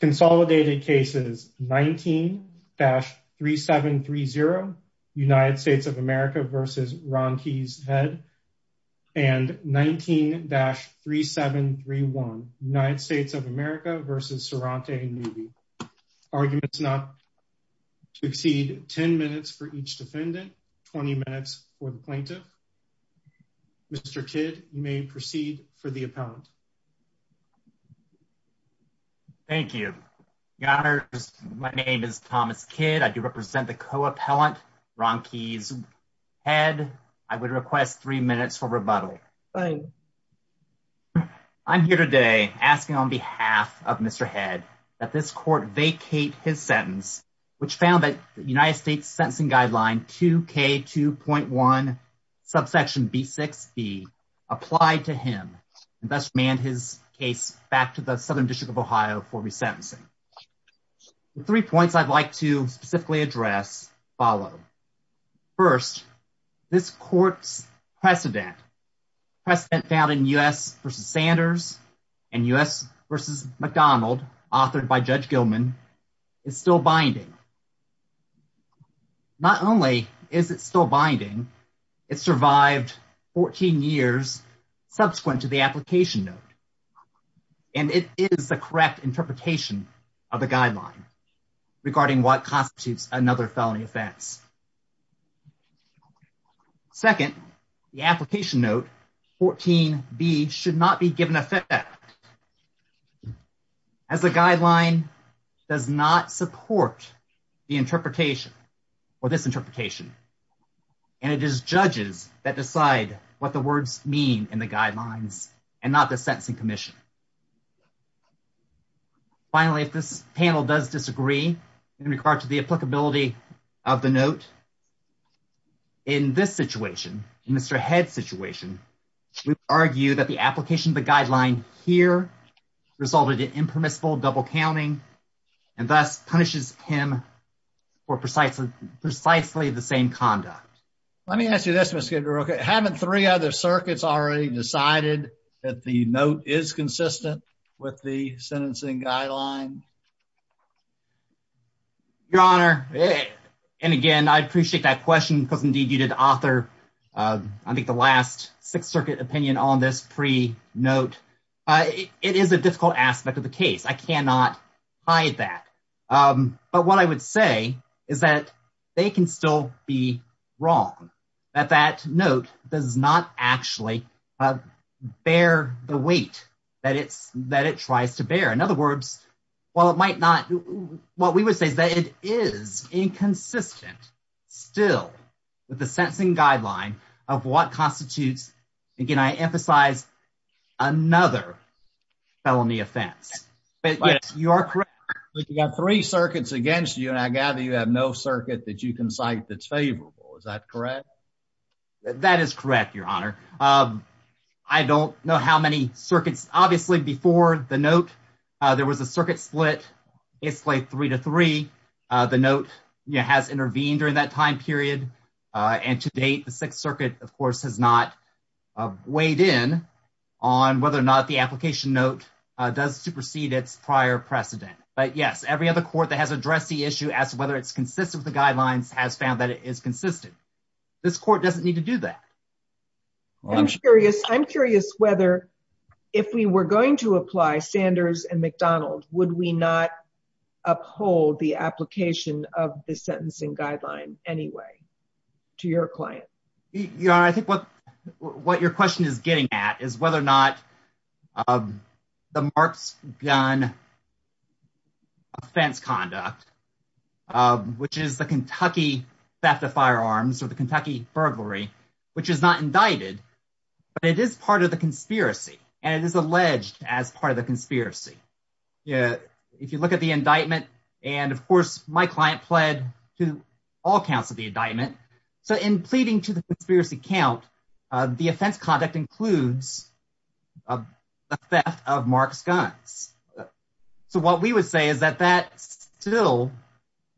Consolidated cases 19-3730 United States of America v. Ronqueize Head and 19-3731 United States of America v. Seronte Newby. Arguments not to exceed 10 minutes for each defendant, 20 minutes for the plaintiff. Mr. Kidd, you may proceed for the appellant. Thank you. Your honors, my name is Thomas Kidd. I do represent the co-appellant, Ronqueize Head. I would request three minutes for rebuttal. I'm here today asking on behalf of Mr. Head that this court vacate his sentence, which found that the United States sentencing guideline 2K2.1 subsection B6B applied to him and thus manned his case back to the Southern District of Ohio for resentencing. The three points I'd like to specifically address follow. First, this court's precedent, precedent found in U.S. v. Sanders and U.S. v. McDonald, authored by Judge Gilman, is still binding. Not only is it still binding, it survived 14 years subsequent to the application note, and it is the correct interpretation of the guideline regarding what constitutes another felony offense. Second, the application note 14B should not be given effect as the guideline does not support the interpretation or this interpretation, and it is judges that decide what the words mean in the guidelines and not the sentencing commission. Finally, if this panel does disagree in regard to the applicability of the note, in this situation, in Mr. Head's situation, we would argue that the application of the guideline here resulted in impermissible double counting and thus punishes him for precisely the same conduct. Let me ask you this, Mr. Kidder, haven't three other circuits already decided that the note is consistent with the sentencing guideline? Your Honor, and again, I appreciate that question because indeed you did author I think the last Sixth Circuit opinion on this pre-note. It is a difficult aspect of the case. I cannot hide that, but what I would say is that they can still be wrong, that that note does not actually bear the weight that it's that it tries to bear. In other words, while it might not, what we would say is that it is inconsistent still with the sentencing guideline of what constitutes, again, I emphasize another felony offense, but yes, you are correct. But you got three circuits against you and I gather you have no circuit that you can cite that's favorable. Is that correct? That is correct, Your Honor. I don't know how many circuits, obviously before the note, there was a circuit split. It's like three to three. The note has intervened during that time period and to date the Sixth Circuit, of course, has not weighed in on whether or not the application note does supersede its prior precedent. But yes, every other court that has addressed the issue as to whether it's consistent with the guidelines has found that it is consistent. This court doesn't need to do that. I'm curious whether if we were going to apply Sanders and McDonald, would we not uphold the application of the sentencing guideline anyway to your client? Your Honor, I think what your question is getting at is whether or not the marks gun offense conduct, which is the Kentucky theft of firearms or the Kentucky burglary, which is not indicted, but it is part of the conspiracy and it is alleged as part of the conspiracy. If you look at the indictment, and of course, my client pled to all counts of the indictment. So in pleading to the conspiracy count, the offense conduct includes a theft of marks guns. So what we would say is that that still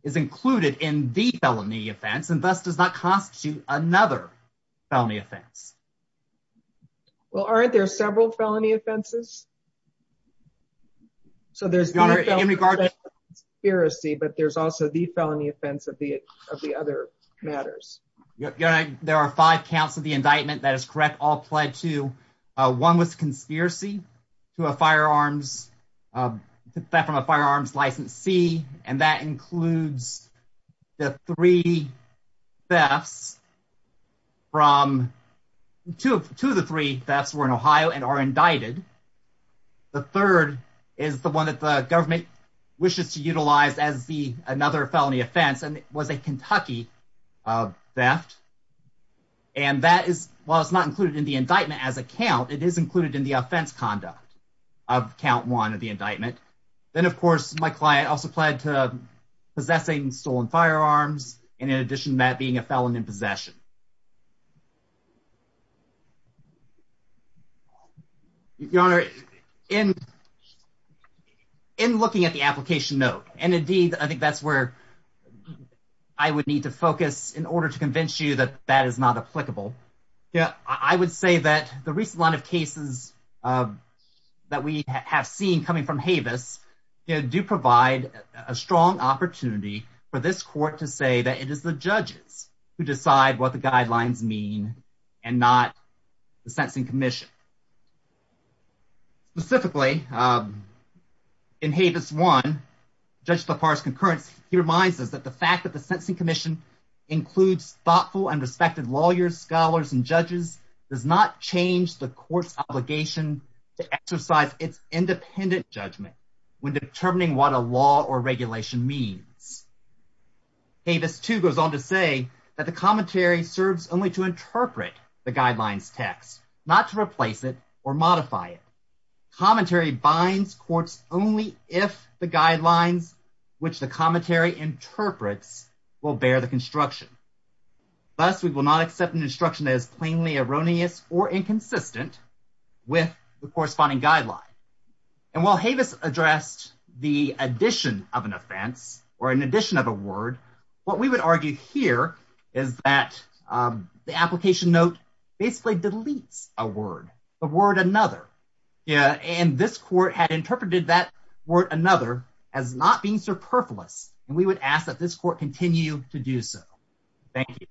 is included in the felony offense and thus does not constitute another felony offense. Well, aren't there several felony offenses? So there's your honor in regard to conspiracy, but there's also the felony offense of the of the other matters. Your Honor, there are five counts of the indictment that is correct. All pled to one was conspiracy to a firearms, uh, that from a firearms licensee. And that includes the three thefts from two, two of the three that's were in Ohio and are indicted. The third is the one that the government wishes to utilize as the another felony offense. And it was a Kentucky theft. And that is, while it's not included in the indictment as a count, it is included in the offense conduct of count one of the indictment. Then of course, my client also to possessing stolen firearms. And in addition to that, being a felon in possession, your honor in, in looking at the application note, and indeed, I think that's where I would need to focus in order to convince you that that is not applicable. Yeah. I would say that the recent line of cases, uh, that we have seen coming from Havis, you know, do provide a strong opportunity for this court to say that it is the judges who decide what the guidelines mean and not the sentencing commission. Specifically, um, in Havis one, Judge LaPar's concurrence, he reminds us that the fact that the sentencing commission includes thoughtful and respected lawyers, scholars, and judges does not change the court's obligation to exercise its independent judgment when determining what a law or regulation means. Havis two goes on to say that the commentary serves only to interpret the guidelines text, not to replace it or modify it. Commentary binds courts only if the guidelines which the commentary interprets will bear the construction. Thus, we will not accept an instruction as plainly erroneous or inconsistent with the corresponding guideline. And while Havis addressed the addition of an offense or an addition of a word, what we would argue here is that, um, the application note basically deletes a word, the word another. Yeah. And this court had interpreted that word another as not being and we would ask that this court continue to do so. Thank you.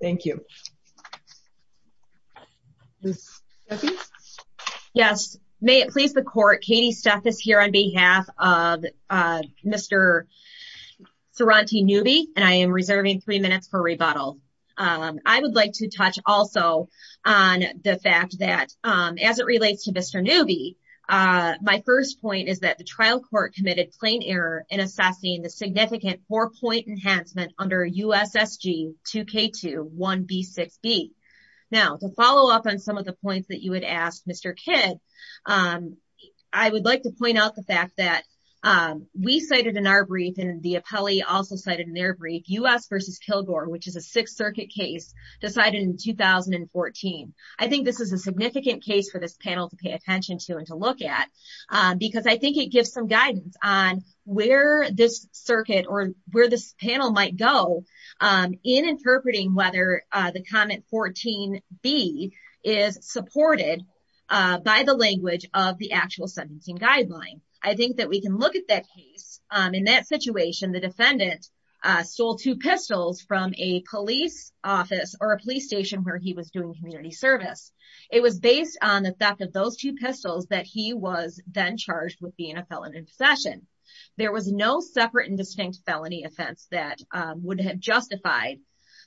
Thank you. Yes. May it please the court. Katie stuff is here on behalf of, uh, Mr. Sorante newbie. And I am reserving three minutes for rebuttal. Um, I would like to touch also on the fact that, um, as it is a significant case for this panel to pay attention to and to look at, um, because I think gives some guidance on where this circuit or where this panel might go, um, in interpreting whether, uh, the comment 14 B is supported, uh, by the language of the actual sentencing guideline. I think that we can look at that case. Um, in that situation, the defendant, uh, stole two pistols from a police office or a police station where he was doing community service. It was based on the fact of those two pistols that he was then charged with being a felon in possession. There was no separate and distinct felony offense that, um, would have justified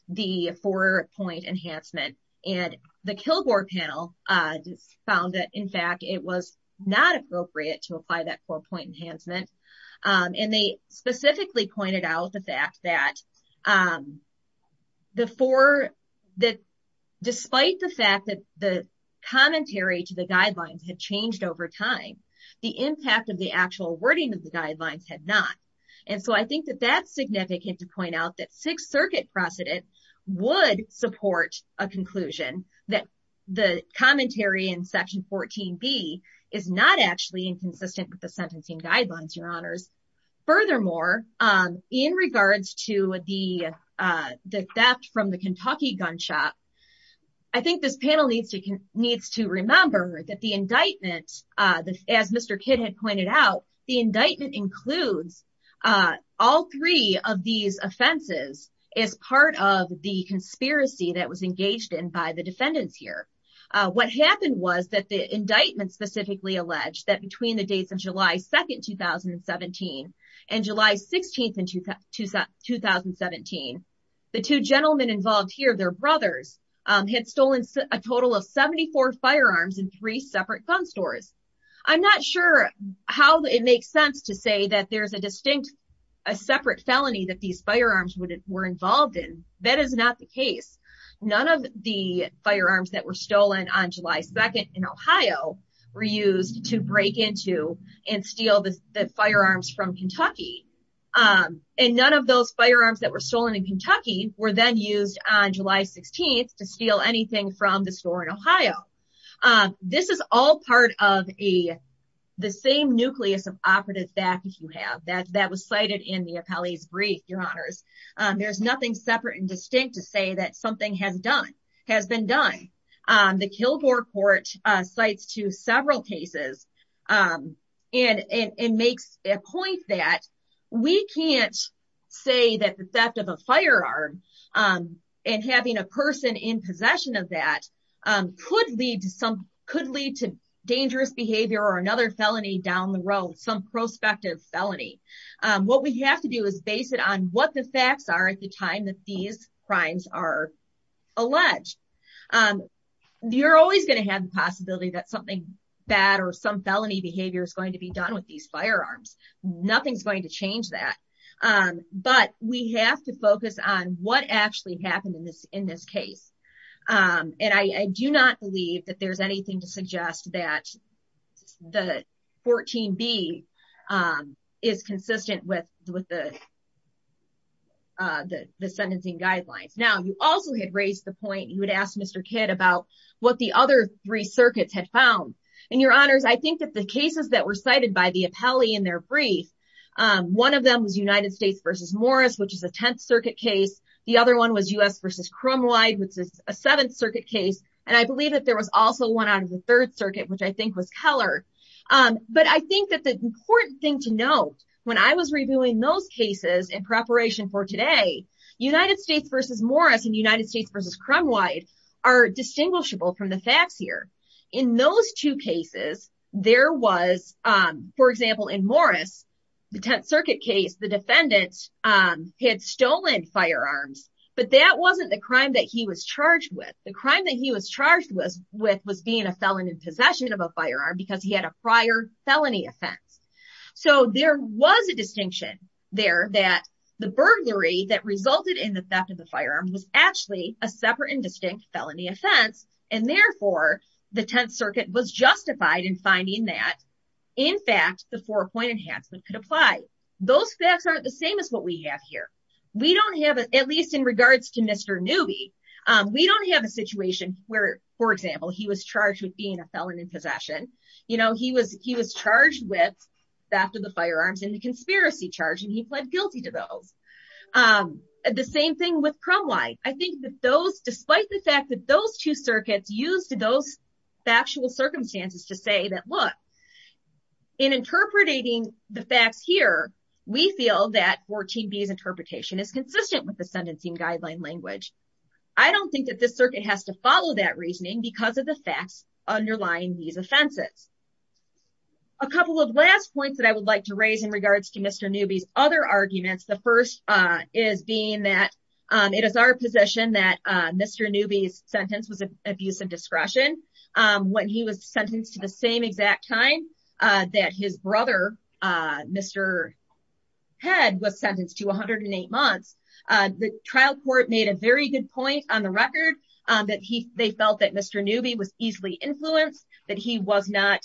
the four point enhancement and the kill board panel, uh, found that in fact, it was not appropriate to apply that four point enhancement. Um, and they specifically pointed out the fact that, um, the four that despite the fact that the commentary to the guidelines had changed over time, the impact of the actual wording of the guidelines had not. And so I think that that's significant to point out that sixth circuit precedent would support a conclusion that the commentary in section 14 B is not actually inconsistent with the sentencing guidelines. Your honors. Furthermore, um, in regards to the, uh, the theft from the Kentucky gun shop, I think this panel needs to needs to remember that the indictment, uh, the, as Mr. Kidd had pointed out, the indictment includes, uh, all three of these offenses as part of the conspiracy that was engaged in by the defendants here. Uh, what happened was that the indictment specifically alleged that between the dates of July 2nd, 2017 and July 16th in 2017, the two gentlemen involved here, their brothers, um, had stolen a total of 74 firearms in three separate gun stores. I'm not sure how it makes sense to say that there's a distinct, a separate felony that these firearms would were involved in. That is not the case. None of the firearms that were used to break into and steal the firearms from Kentucky. Um, and none of those firearms that were stolen in Kentucky were then used on July 16th to steal anything from the store in Ohio. Um, this is all part of a, the same nucleus of operative that you have that that was cited in the appellee's brief. Your honors. Um, there's nothing separate and distinct to say that has done, has been done. Um, the Kilgore court, uh, cites to several cases, um, and, and, and makes a point that we can't say that the theft of a firearm, um, and having a person in possession of that, um, could lead to some, could lead to dangerous behavior or another felony down the road, some prospective felony. Um, what we have to do is base it on what the facts are at the time that these crimes are alleged. Um, you're always going to have the possibility that something bad or some felony behavior is going to be done with these firearms. Nothing's going to change that. Um, but we have to focus on what actually happened in this, in this case. Um, and I, I do not believe that there's anything to suggest that the 14 B, um, is consistent with, with the, uh, the, the sentencing guidelines. Now, you also had raised the point you would ask Mr. Kidd about what the other three circuits had found. And your honors, I think that the cases that were cited by the appellee in their brief, um, one of them was United States versus Morris, which is a 10th circuit case. The other one was us versus Cromwide, which is a seventh circuit case. And I believe that there was also one out of the third circuit, which I think was Keller. Um, but I think that the important thing to note when I was reviewing those cases in preparation for today, United States versus Morris and United States versus Cromwide are distinguishable from the facts here. In those two cases, there was, um, for example, in Morris, the 10th circuit case, the defendants, um, had stolen firearms, but that wasn't the crime that he was charged with. The crime that he was charged with was being a felon in possession of a firearm because he had a prior felony offense. So there was a distinction there that the burglary that resulted in the theft of the firearm was actually a separate and distinct felony offense. And therefore the 10th circuit was justified in finding that in fact, the four point enhancement could apply. Those facts aren't the same as what we have here. We don't have, at least in regards to Mr. Newby, um, we don't have a situation where, for example, he was charged with being a felon in possession, you know, he was, he was charged with theft of the firearms and the conspiracy charge, and he pled guilty to those. Um, the same thing with Cromwide. I think that those, despite the fact that those two circuits used those factual circumstances to say that, look, in interpreting the facts here, we feel that 14B's interpretation is consistent with the sentencing guideline language. I don't think that this circuit has to follow that reasoning because of the facts underlying these offenses. A couple of last points that I would like to raise in regards to Mr. Newby's other arguments. The first, uh, is being that, um, it is our position that, uh, Mr. Newby's sentence was abuse of discretion. Um, when he was sentenced to the same exact time, uh, that his brother, uh, Mr. Head was sentenced to 108 months, uh, the trial court made a very good point on the record, um, that he, they felt that Mr. Newby was easily influenced, that he was not,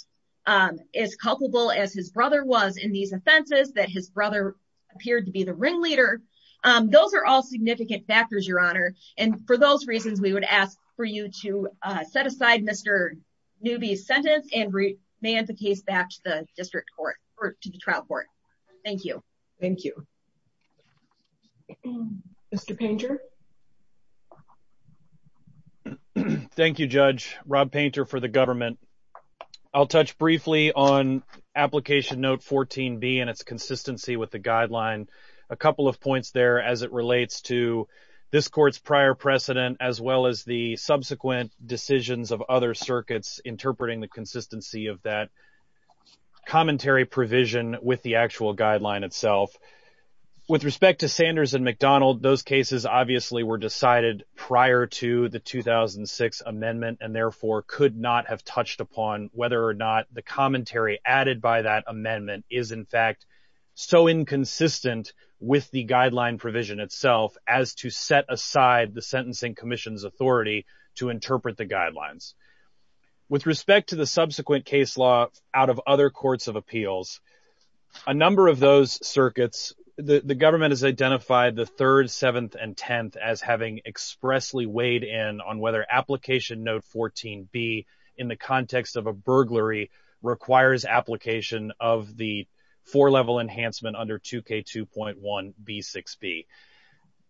um, as culpable as his brother was in these offenses, that his brother appeared to be the ringleader. Um, those are all significant factors, Your Honor. And for those reasons, we would ask for you to, uh, set aside Mr. Newby's sentence and remand the case back to the district court or to the trial court. Thank you. Thank you. Mr. Painter. Thank you, Judge. Rob Painter for the government. I'll touch briefly on application note 14b and its consistency with the guideline. A couple of points there as it relates to this court's prior precedent as well as the subsequent decisions of other circuits interpreting the consistency of that commentary provision with the actual guideline itself. With respect to Sanders and McDonald, those cases obviously were decided prior to the 2006 amendment and therefore could not have touched upon whether or not the commentary added by that amendment is in fact so inconsistent with the guideline provision itself as to set aside the sentencing commission's guidelines. With respect to the subsequent case law out of other courts of appeals, a number of those circuits, the government has identified the 3rd, 7th, and 10th as having expressly weighed in on whether application note 14b in the context of a burglary requires application of the four-level enhancement under 2k2.1b6b.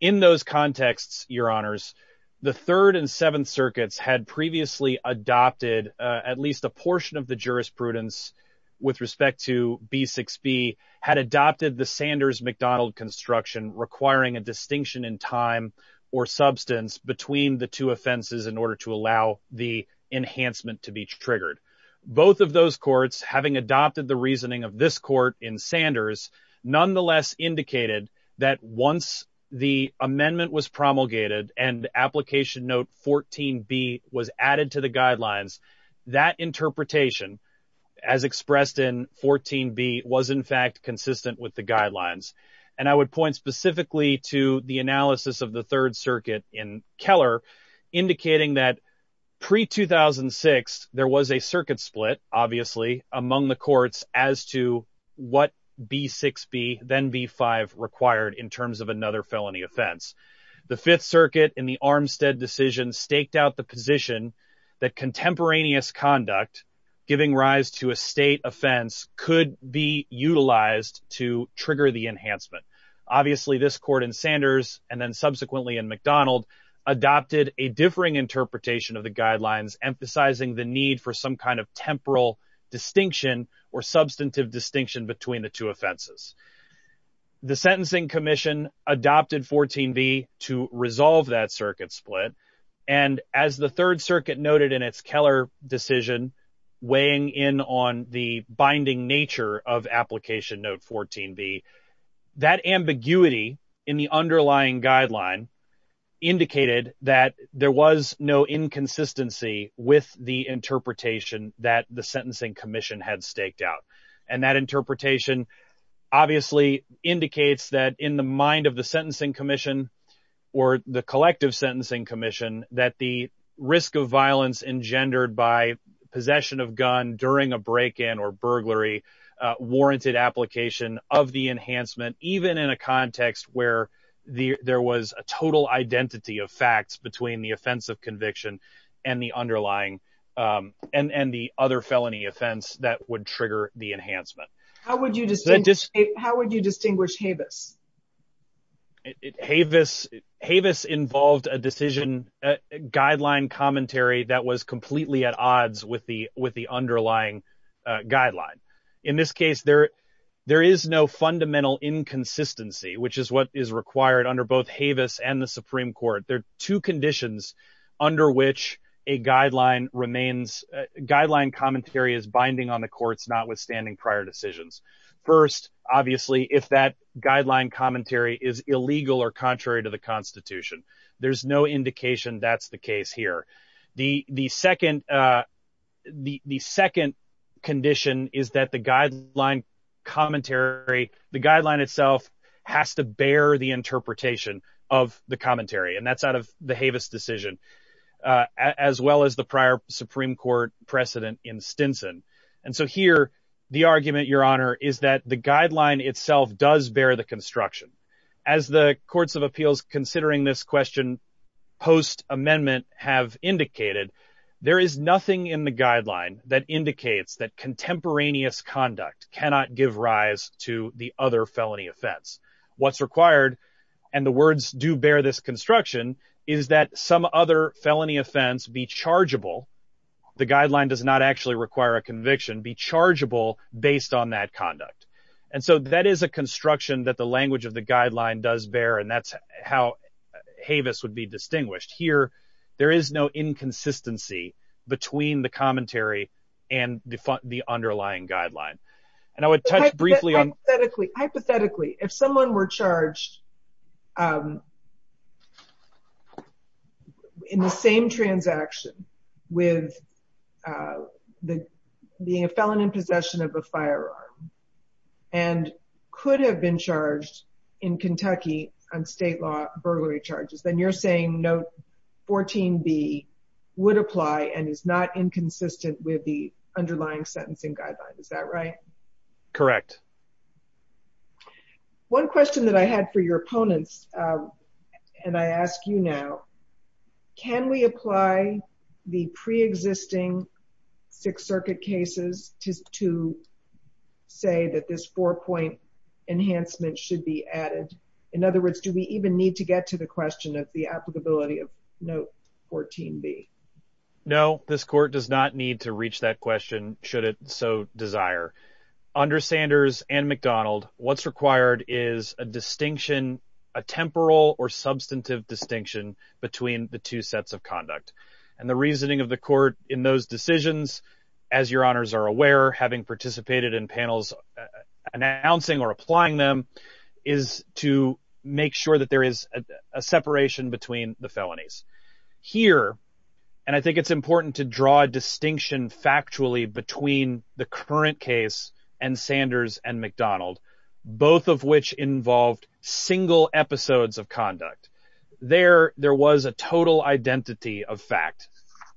In those contexts, Your Honors, the 3rd and 7th circuits had previously adopted at least a portion of the jurisprudence with respect to b6b had adopted the Sanders-McDonald construction requiring a distinction in time or substance between the two offenses in order to allow the enhancement to be triggered. Both of those courts having adopted the reasoning of this court in Sanders nonetheless indicated that once the amendment was promulgated and application note 14b was added to the guidelines, that interpretation as expressed in 14b was in fact consistent with the guidelines. And I would point specifically to the analysis of the 3rd circuit in Keller indicating that pre-2006, there was a circuit split obviously among the courts as to what b6b then b5 required in terms of another felony offense. The 5th circuit in the Armstead decision staked out the position that contemporaneous conduct giving rise to a state offense could be utilized to trigger the enhancement. Obviously, this court in Sanders and then subsequently in McDonald adopted a differing interpretation of the guidelines emphasizing the need for some kind of temporal distinction or substantive distinction between the two offenses. The Sentencing Commission adopted 14b to resolve that circuit split and as the 3rd circuit noted in its Keller decision weighing in on the binding nature of application note 14b, that ambiguity in the underlying guideline indicated that there was no inconsistency with the interpretation that the Sentencing Commission had staked out. And that interpretation obviously indicates that in the mind of the Sentencing Commission or the collective Sentencing Commission that the risk of violence engendered by possession of gun during a break-in or burglary warranted application of the enhancement even in a context where there was a total identity of facts between the offense of conviction and the underlying and the other felony offense that would trigger the enhancement. How would you distinguish Havis? Havis involved a decision guideline commentary that was completely at odds with the underlying guideline. In this case there is no fundamental inconsistency which is what is required under both Havis and the Supreme Court. There are two conditions under which a guideline remains, guideline commentary is binding on the courts notwithstanding prior decisions. First, obviously if that guideline commentary is illegal or contrary to the Constitution. There's no indication that's the case here. The second condition is that the guideline itself has to bear the interpretation of the commentary and that's out of the Havis decision as well as the prior Supreme Court precedent in Stinson. And so here the argument, Your Honor, is that the guideline itself does the construction. As the courts of appeals considering this question post-amendment have indicated, there is nothing in the guideline that indicates that contemporaneous conduct cannot give rise to the other felony offense. What's required, and the words do bear this construction, is that some other felony offense be chargeable. The guideline does not actually require a conviction, be chargeable, based on that conduct. And so that is a construction that the language of the guideline does bear and that's how Havis would be distinguished. Here there is no inconsistency between the commentary and the underlying guideline. And I would touch briefly on... a felon in possession of a firearm and could have been charged in Kentucky on state law burglary charges, then you're saying note 14b would apply and is not inconsistent with the underlying sentencing guideline. Is that right? Correct. One question that I had for your opponents, and I ask you now, can we apply the pre-existing Sixth Circuit cases to say that this four-point enhancement should be added? In other words, do we even need to get to the question of the applicability of note 14b? No, this court does not need to reach that question should it so desire. Under Sanders and McDonald, what's required is a distinction, a temporal or substantive distinction, between the two sets of conduct. And the reasoning of the court in those decisions, as your honors are aware, having participated in panels announcing or applying them, is to make sure that there is a separation between the felonies. Here, and I think it's important to draw a distinction factually between the current case and Sanders and McDonald, both of which involved single episodes of conduct. There was a total identity of fact.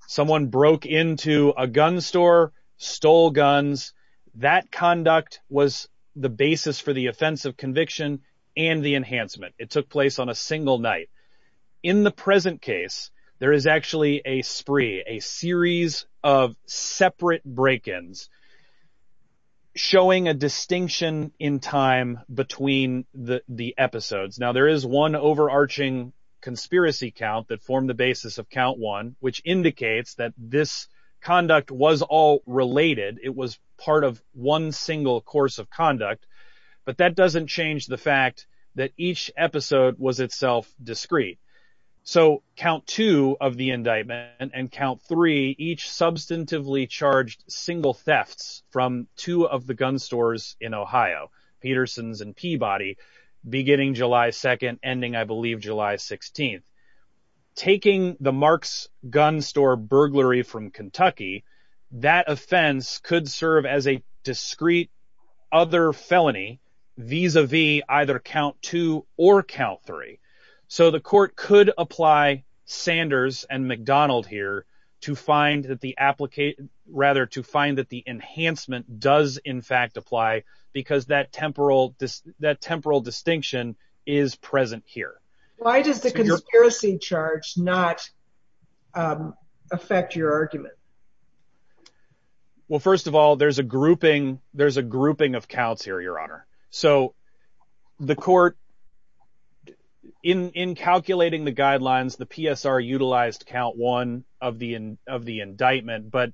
Someone broke into a gun store, stole guns. That conduct was the basis for the offense of conviction and the enhancement. It took place on a single night. In the present case, there is actually a spree, a series of separate break-ins showing a distinction in time between the episodes. Now, there is one overarching conspiracy count that formed the basis of count one, which indicates that this conduct was all related. It was part of one single course of conduct, but that doesn't change the fact that each episode was itself discrete. So count two of the indictment and count three, each substantively charged single thefts from two of the gun stores in Ohio, Peterson's and Peabody, beginning July 2nd, ending, I believe, July 16th. Taking the Marks gun store burglary from Kentucky, that offense could serve as a discrete other felony vis-a-vis either count two or count three. So the court could apply Sanders and McDonald here to find that the enhancement does in fact apply because that temporal distinction is present here. Why does the conspiracy charge not affect your argument? Well, first of all, there's a grouping of counts here, Your Honor. So the court, in calculating the guidelines, the PSR utilized count one of the indictment, but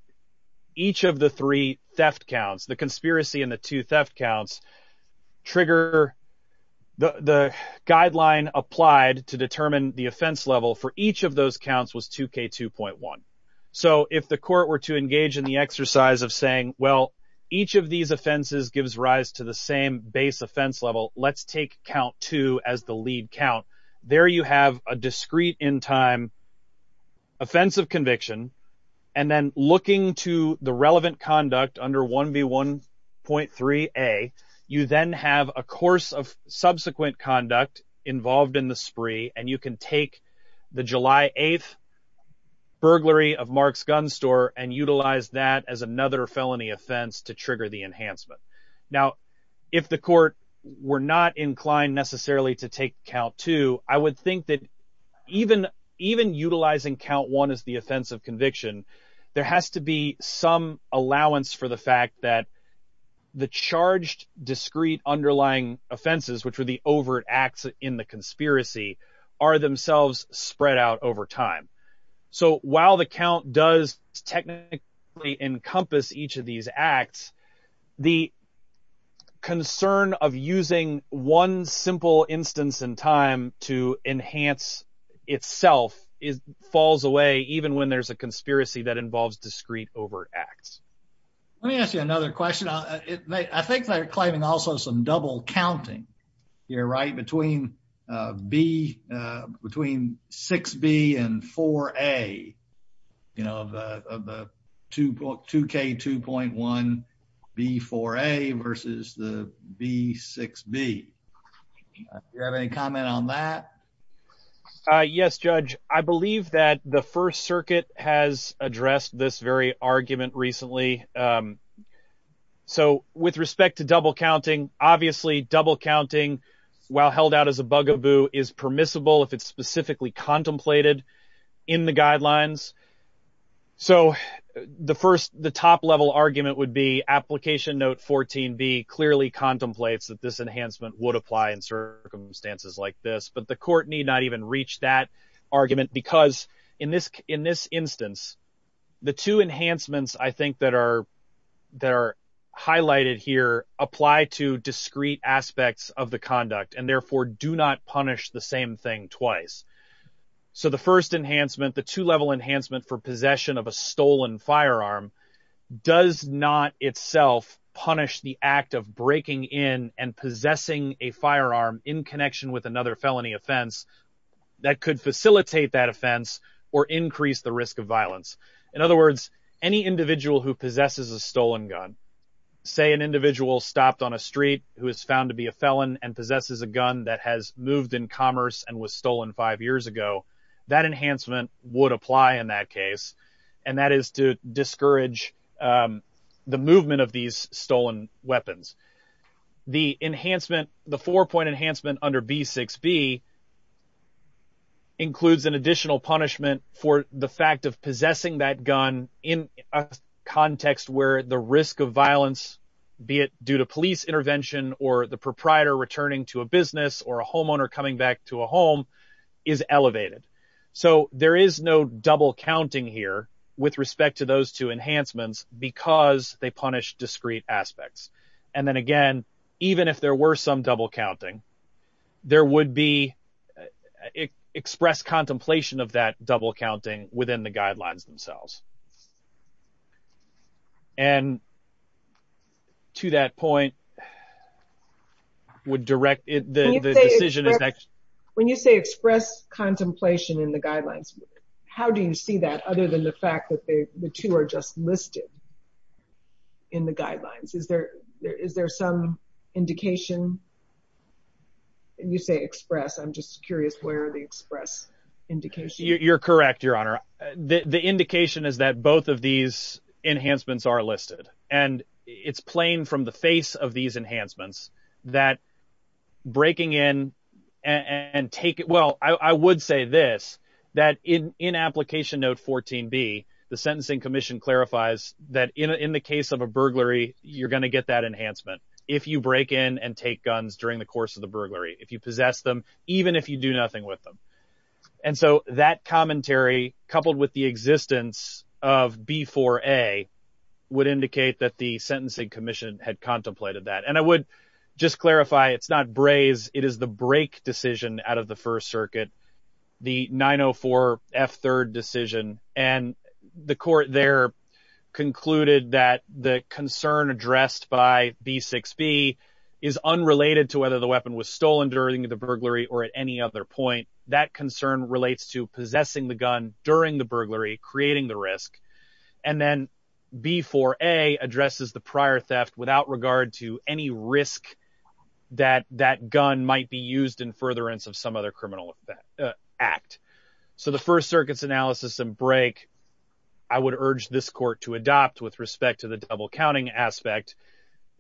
each of the three theft counts, the conspiracy and the two theft counts, trigger the guideline applied to determine the offense level for each of those counts was 2k2.1. So if the court were to engage in the exercise of saying, well, each of these offenses gives rise to the same base offense level, let's take count two as the lead count. There you have a discrete in time offensive conviction, and then looking to the relevant conduct under 1B1.3a, you then have a course of subsequent conduct involved in the spree, and you can take the July 8th burglary of Marks gun store and utilize that as another felony offense to trigger the indictment. Now, if the court were not inclined necessarily to take count two, I would think that even utilizing count one as the offensive conviction, there has to be some allowance for the fact that the charged discrete underlying offenses, which were the overt acts in the conspiracy, are themselves spread out over time. So while the count does technically encompass each of these acts, the concern of using one simple instance in time to enhance itself falls away even when there's a conspiracy that involves discrete overt acts. Let me ask you another question. I think they're claiming also some double counting here, right? Between 6B and 4A, you know, of the 2K2.1B4A versus the B6B. Do you have any comment on that? Yes, Judge. I believe that the First Circuit has addressed this argument recently. So with respect to double counting, obviously double counting while held out as a bugaboo is permissible if it's specifically contemplated in the guidelines. So the first, the top level argument would be application note 14B clearly contemplates that this enhancement would apply in circumstances like this, but the court need not even reach that The two enhancements I think that are highlighted here apply to discrete aspects of the conduct and therefore do not punish the same thing twice. So the first enhancement, the two-level enhancement for possession of a stolen firearm, does not itself punish the act of breaking in and possessing a firearm in connection with another felony offense that could facilitate that offense or increase the risk of violence. In other words, any individual who possesses a stolen gun, say an individual stopped on a street who is found to be a felon and possesses a gun that has moved in commerce and was stolen five years ago, that enhancement would apply in that case. And that is to discourage the movement of these stolen weapons. The enhancement, the four-point enhancement under B6B includes an additional punishment for the fact of possessing that gun in a context where the risk of violence, be it due to police intervention or the proprietor returning to a business or a homeowner coming back to a home, is elevated. So there is no double counting here with respect to those two enhancements because they punish discrete aspects. And then again, even if there were some double counting, there would be expressed contemplation of that double counting within the guidelines themselves. And to that point, would direct the decision... When you say express contemplation in the guidelines, how do you see that other than the fact that the two are just listed in the guidelines? Is there some indication, and you say express, I'm just curious where the express indication... You're correct, Your Honor. The indication is that both of these enhancements are listed, and it's plain from the face of these enhancements that breaking in and taking... I would say this, that in Application Note 14B, the Sentencing Commission clarifies that in the case of a burglary, you're going to get that enhancement if you break in and take guns during the course of the burglary, if you possess them, even if you do nothing with them. And so that commentary, coupled with the existence of B4A, would indicate that the Sentencing Commission had contemplated that. And I would just clarify, it's not braze, it is the break decision out of the First Circuit, the 904 F3rd decision. And the court there concluded that the concern addressed by B6B is unrelated to whether the weapon was stolen during the burglary or at any other point. That concern relates to possessing the gun during the burglary, creating the risk. And then B4A addresses the prior theft without regard to any risk that that gun might be used in furtherance of some other criminal act. So the First Circuit's analysis and break, I would urge this court to adopt with respect to the double counting aspect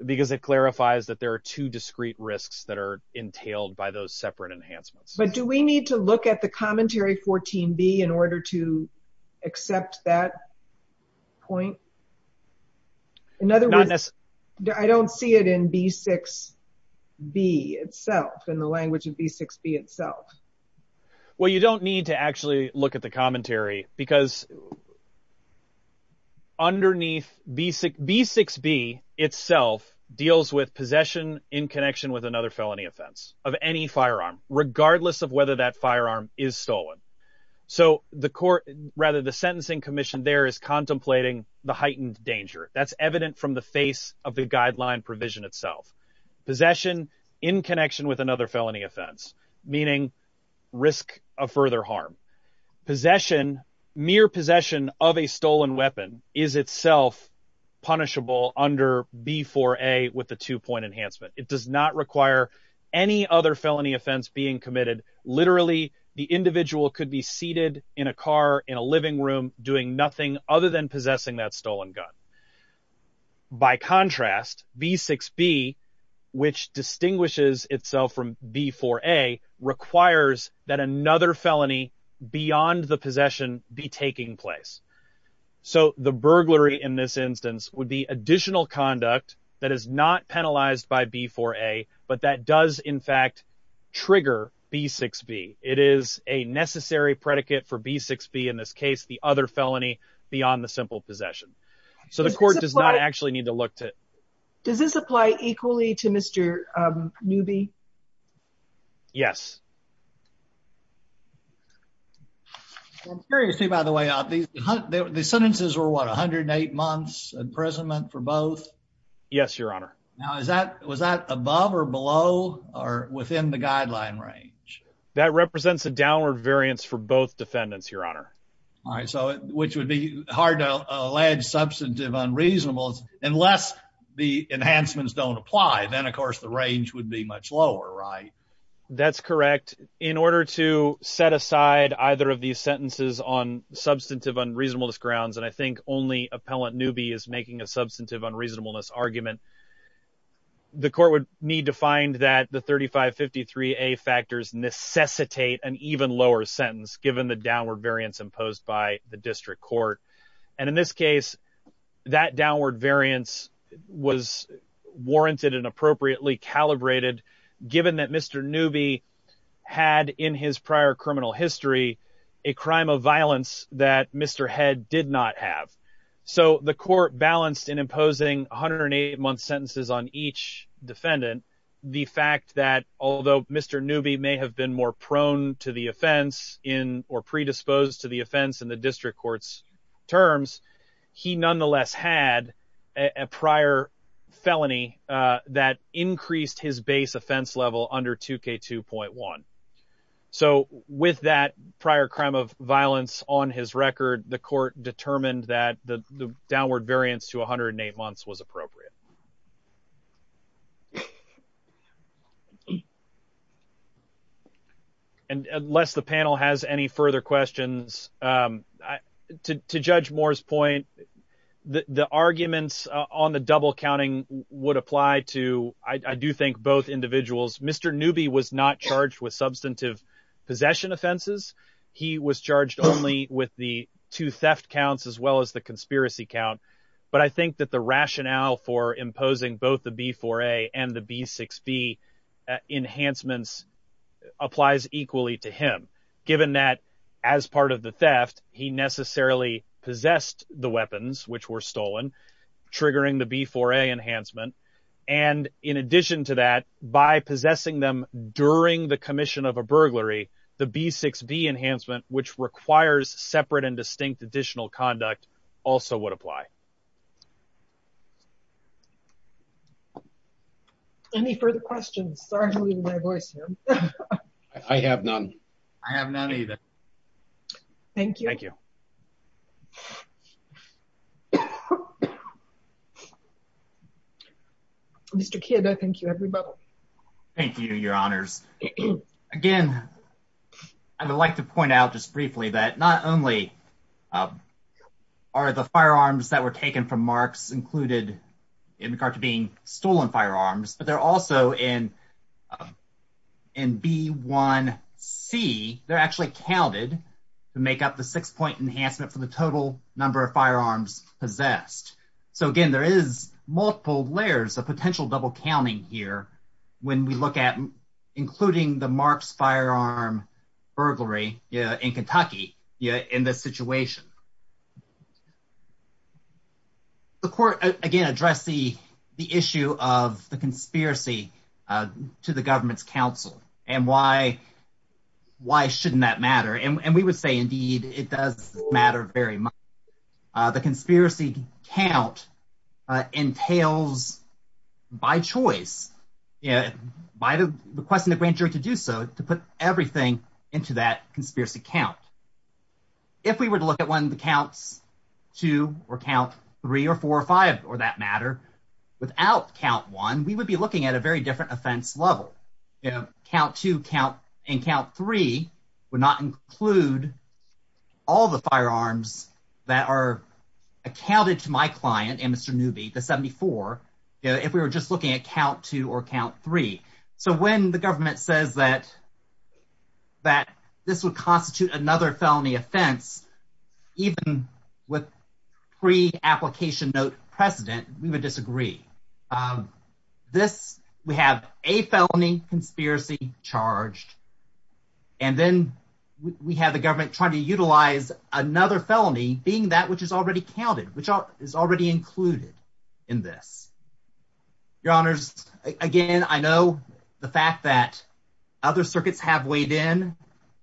because it clarifies that there are two discrete risks that are entailed by those separate enhancements. But do we need to look at the commentary 14B in order to accept that point? In other words, I don't see it in B6B itself, in the language of B6B itself. Well, you don't need to actually look at the commentary because underneath B6B itself deals with possession in connection with another felony offense of any firearm, regardless of whether that firearm is stolen. So the court, rather the that's evident from the face of the guideline provision itself, possession in connection with another felony offense, meaning risk of further harm. Possession, mere possession of a stolen weapon is itself punishable under B4A with the two point enhancement. It does not require any other felony offense being committed. Literally, the individual could be seated in a car in a living room doing nothing other than possessing stolen gun. By contrast, B6B, which distinguishes itself from B4A, requires that another felony beyond the possession be taking place. So the burglary in this instance would be additional conduct that is not penalized by B4A, but that does in fact trigger B6B. It is a necessary predicate for B6B in this case, the other felony beyond the simple possession. So the court does not actually need to look to it. Does this apply equally to Mr. Newby? Yes. I'm curious to, by the way, the sentences were what, 108 months imprisonment for both? Yes, your honor. Now, is that was that above or below or within the guideline range? That represents a downward variance for both defendants, your honor. All right, so which would be hard to allege substantive unreasonable unless the enhancements don't apply. Then, of course, the range would be much lower, right? That's correct. In order to set aside either of these sentences on substantive unreasonableness grounds, and I think only appellant Newby is making a substantive unreasonableness argument, the court would need to find that the 3553A factors necessitate an even lower sentence given the downward variance imposed by the district court. And in this case, that downward variance was warranted and appropriately calibrated given that Mr. Newby had in his prior criminal history a crime of violence that Mr. Head did not have. So the court balanced in imposing 108 month sentences on each defendant the fact that although Mr. Newby may have been more prone to the offense in or predisposed to the offense in the district court's terms, he nonetheless had a prior felony that increased his base offense level under 2K2.1. So with that prior crime of violence on his record, the court determined that the downward variance to 108 months was appropriate. And unless the panel has any further questions, to Judge Moore's point, the arguments on the double counting would apply to, I do think, both individuals. Mr. Newby was not charged with substantive possession offenses. He was charged only with the two theft counts as well as the but I think that the rationale for imposing both the B4A and the B6B enhancements applies equally to him given that as part of the theft, he necessarily possessed the weapons which were stolen triggering the B4A enhancement. And in addition to that, by possessing them during the commission of a burglary, the B6B enhancement, which requires separate and distinct additional conduct, also would apply. Any further questions? Sorry to leave my voice here. I have none. I have none either. Thank you. Mr. Kidd, I thank you, everybody. Thank you, your honors. Again, I would like to point out just briefly that not only are the firearms that were taken from Marks included in regard to being stolen firearms, but they're also in B1C, they're actually counted to make up the six-point enhancement for the total number of firearms possessed. So again, there is multiple layers of potential double counting here when we look at including the Marks firearm burglary in Kentucky in this situation. The court, again, addressed the issue of the conspiracy to the government's counsel, and why shouldn't that matter? And we would say, indeed, it does matter very much. The conspiracy count entails, by choice, by the request of the grand jury to do so, to put everything into that conspiracy count. If we were to look at one of the counts two or count three or four or five, or that matter, without count one, we would be looking at a very different offense level. Count two and count three would not include all the firearms that are accounted to my client and Mr. Newby, the 74, if we were just looking at count two or count three. So when the government says that this would constitute another felony offense, even with pre-application note precedent, we would disagree. This, we have a felony conspiracy charged, and then we have the government trying to utilize another felony being that which is already counted, which is already included in this. Your honors, again, I know the fact that other circuits have weighed in,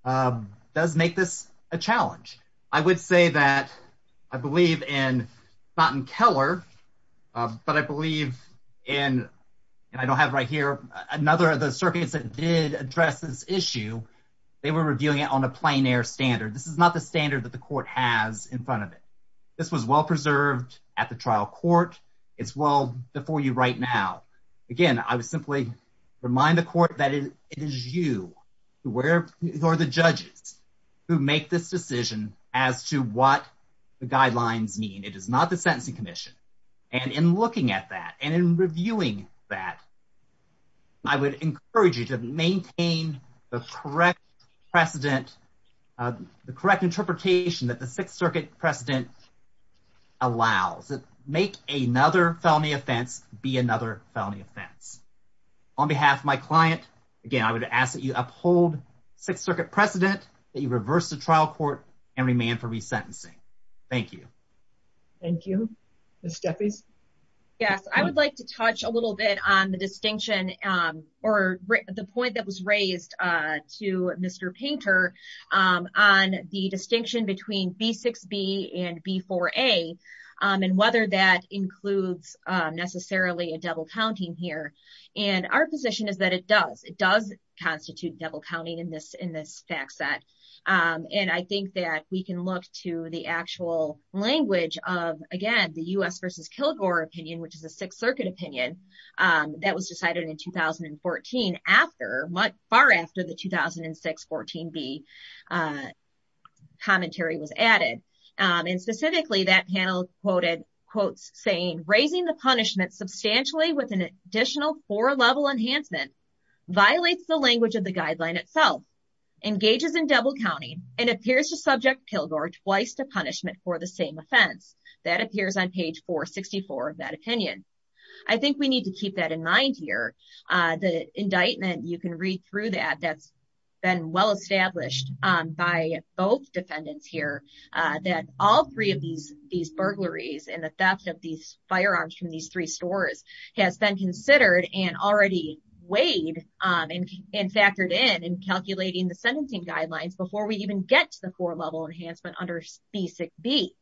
does make this a challenge. I would say that I believe in Mountain Keller, but I believe in, and I don't have right here, another of the circuits that did address this issue, they were reviewing it on a plein air standard. This is not the standard that the court has in front of it. This was well-preserved at the trial court. It's well before you right now. Again, I would simply remind the court that it is you, or the judges who make this decision as to what the guidelines mean. It is not the sentencing commission. And in looking at that and in reviewing that, I would encourage you to maintain the correct precedent, the correct interpretation that the sixth circuit precedent allows. Make another felony offense be another felony offense. On behalf of my client, again, I would ask that you uphold sixth circuit precedent, that you reverse the trial court and remand for resentencing. Thank you. Thank you. Ms. Jeffries? Yes, I would like to touch a little bit on the distinction or the point that was raised to Mr. Painter on the distinction between B6B and B4A and whether that includes necessarily a double counting here. And our position is that it does. It does constitute double counting in this fact set. And I think that we can look to the actual language of, again, the U.S. versus Kilgore opinion, which is a sixth circuit opinion that was decided in 2014, far after the 2006 14B commentary was added. And specifically, that panel quoted quotes saying, raising the punishment substantially with an additional four-level enhancement violates the language of the guideline itself, engages in double counting, and appears to subject Kilgore twice to punishment for the same offense. That appears on page 464 of that opinion. I think we need to keep that in mind here. The indictment, you can read through that, that's been well established by both defendants here, that all three of these burglaries and the theft of these firearms from these three stores has been considered and already weighed and factored in in calculating the sentencing guidelines before we even get to the four-level enhancement under Basic B.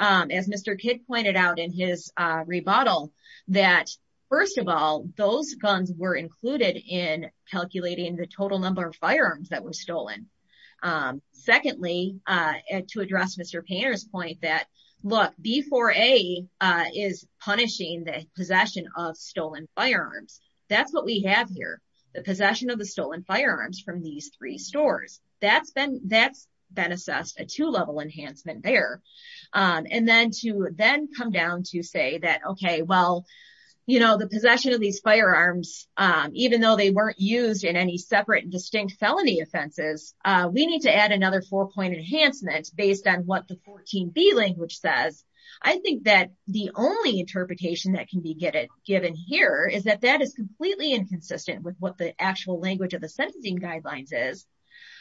As Mr. Kidd pointed out in his rebuttal, that first of all, those guns were included in calculating the total number of firearms that were stolen. Secondly, to address Mr. Painter's point that, look, B4A is punishing the possession of stolen firearms. That's what we have here, the possession of the stolen firearms from these three stores. That's been assessed a two-level enhancement there. And then to then come down to say that, okay, well, the possession of these firearms, even though they weren't used in any separate distinct felony offenses, we need to add another four-point enhancement based on what the 14B language says. I think that the only interpretation that can be given here is that that is completely inconsistent with what the actual language of the sentencing guidelines is.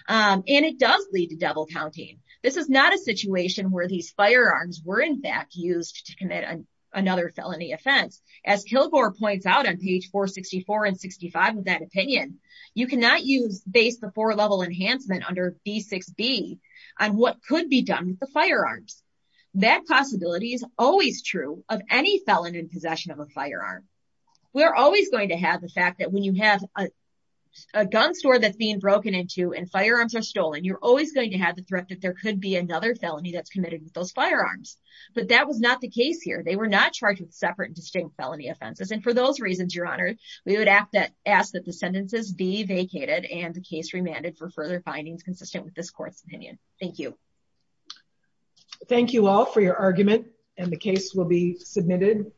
And it does lead to double counting. This is not a situation where these firearms were in fact used to commit another felony offense. As Kilgore points out on page 464 and 65 of that opinion, you cannot use base the four-level enhancement under B6B on what could be done with the firearms. That possibility is always true of any felon in possession of a firearm. We're always going to have the fact that you have a gun store that's being broken into and firearms are stolen. You're always going to have the threat that there could be another felony that's committed with those firearms. But that was not the case here. They were not charged with separate distinct felony offenses. And for those reasons, Your Honor, we would ask that the sentences be vacated and the case remanded for further findings consistent with this court's opinion. Thank you. Thank you all for your argument and the case will be submitted.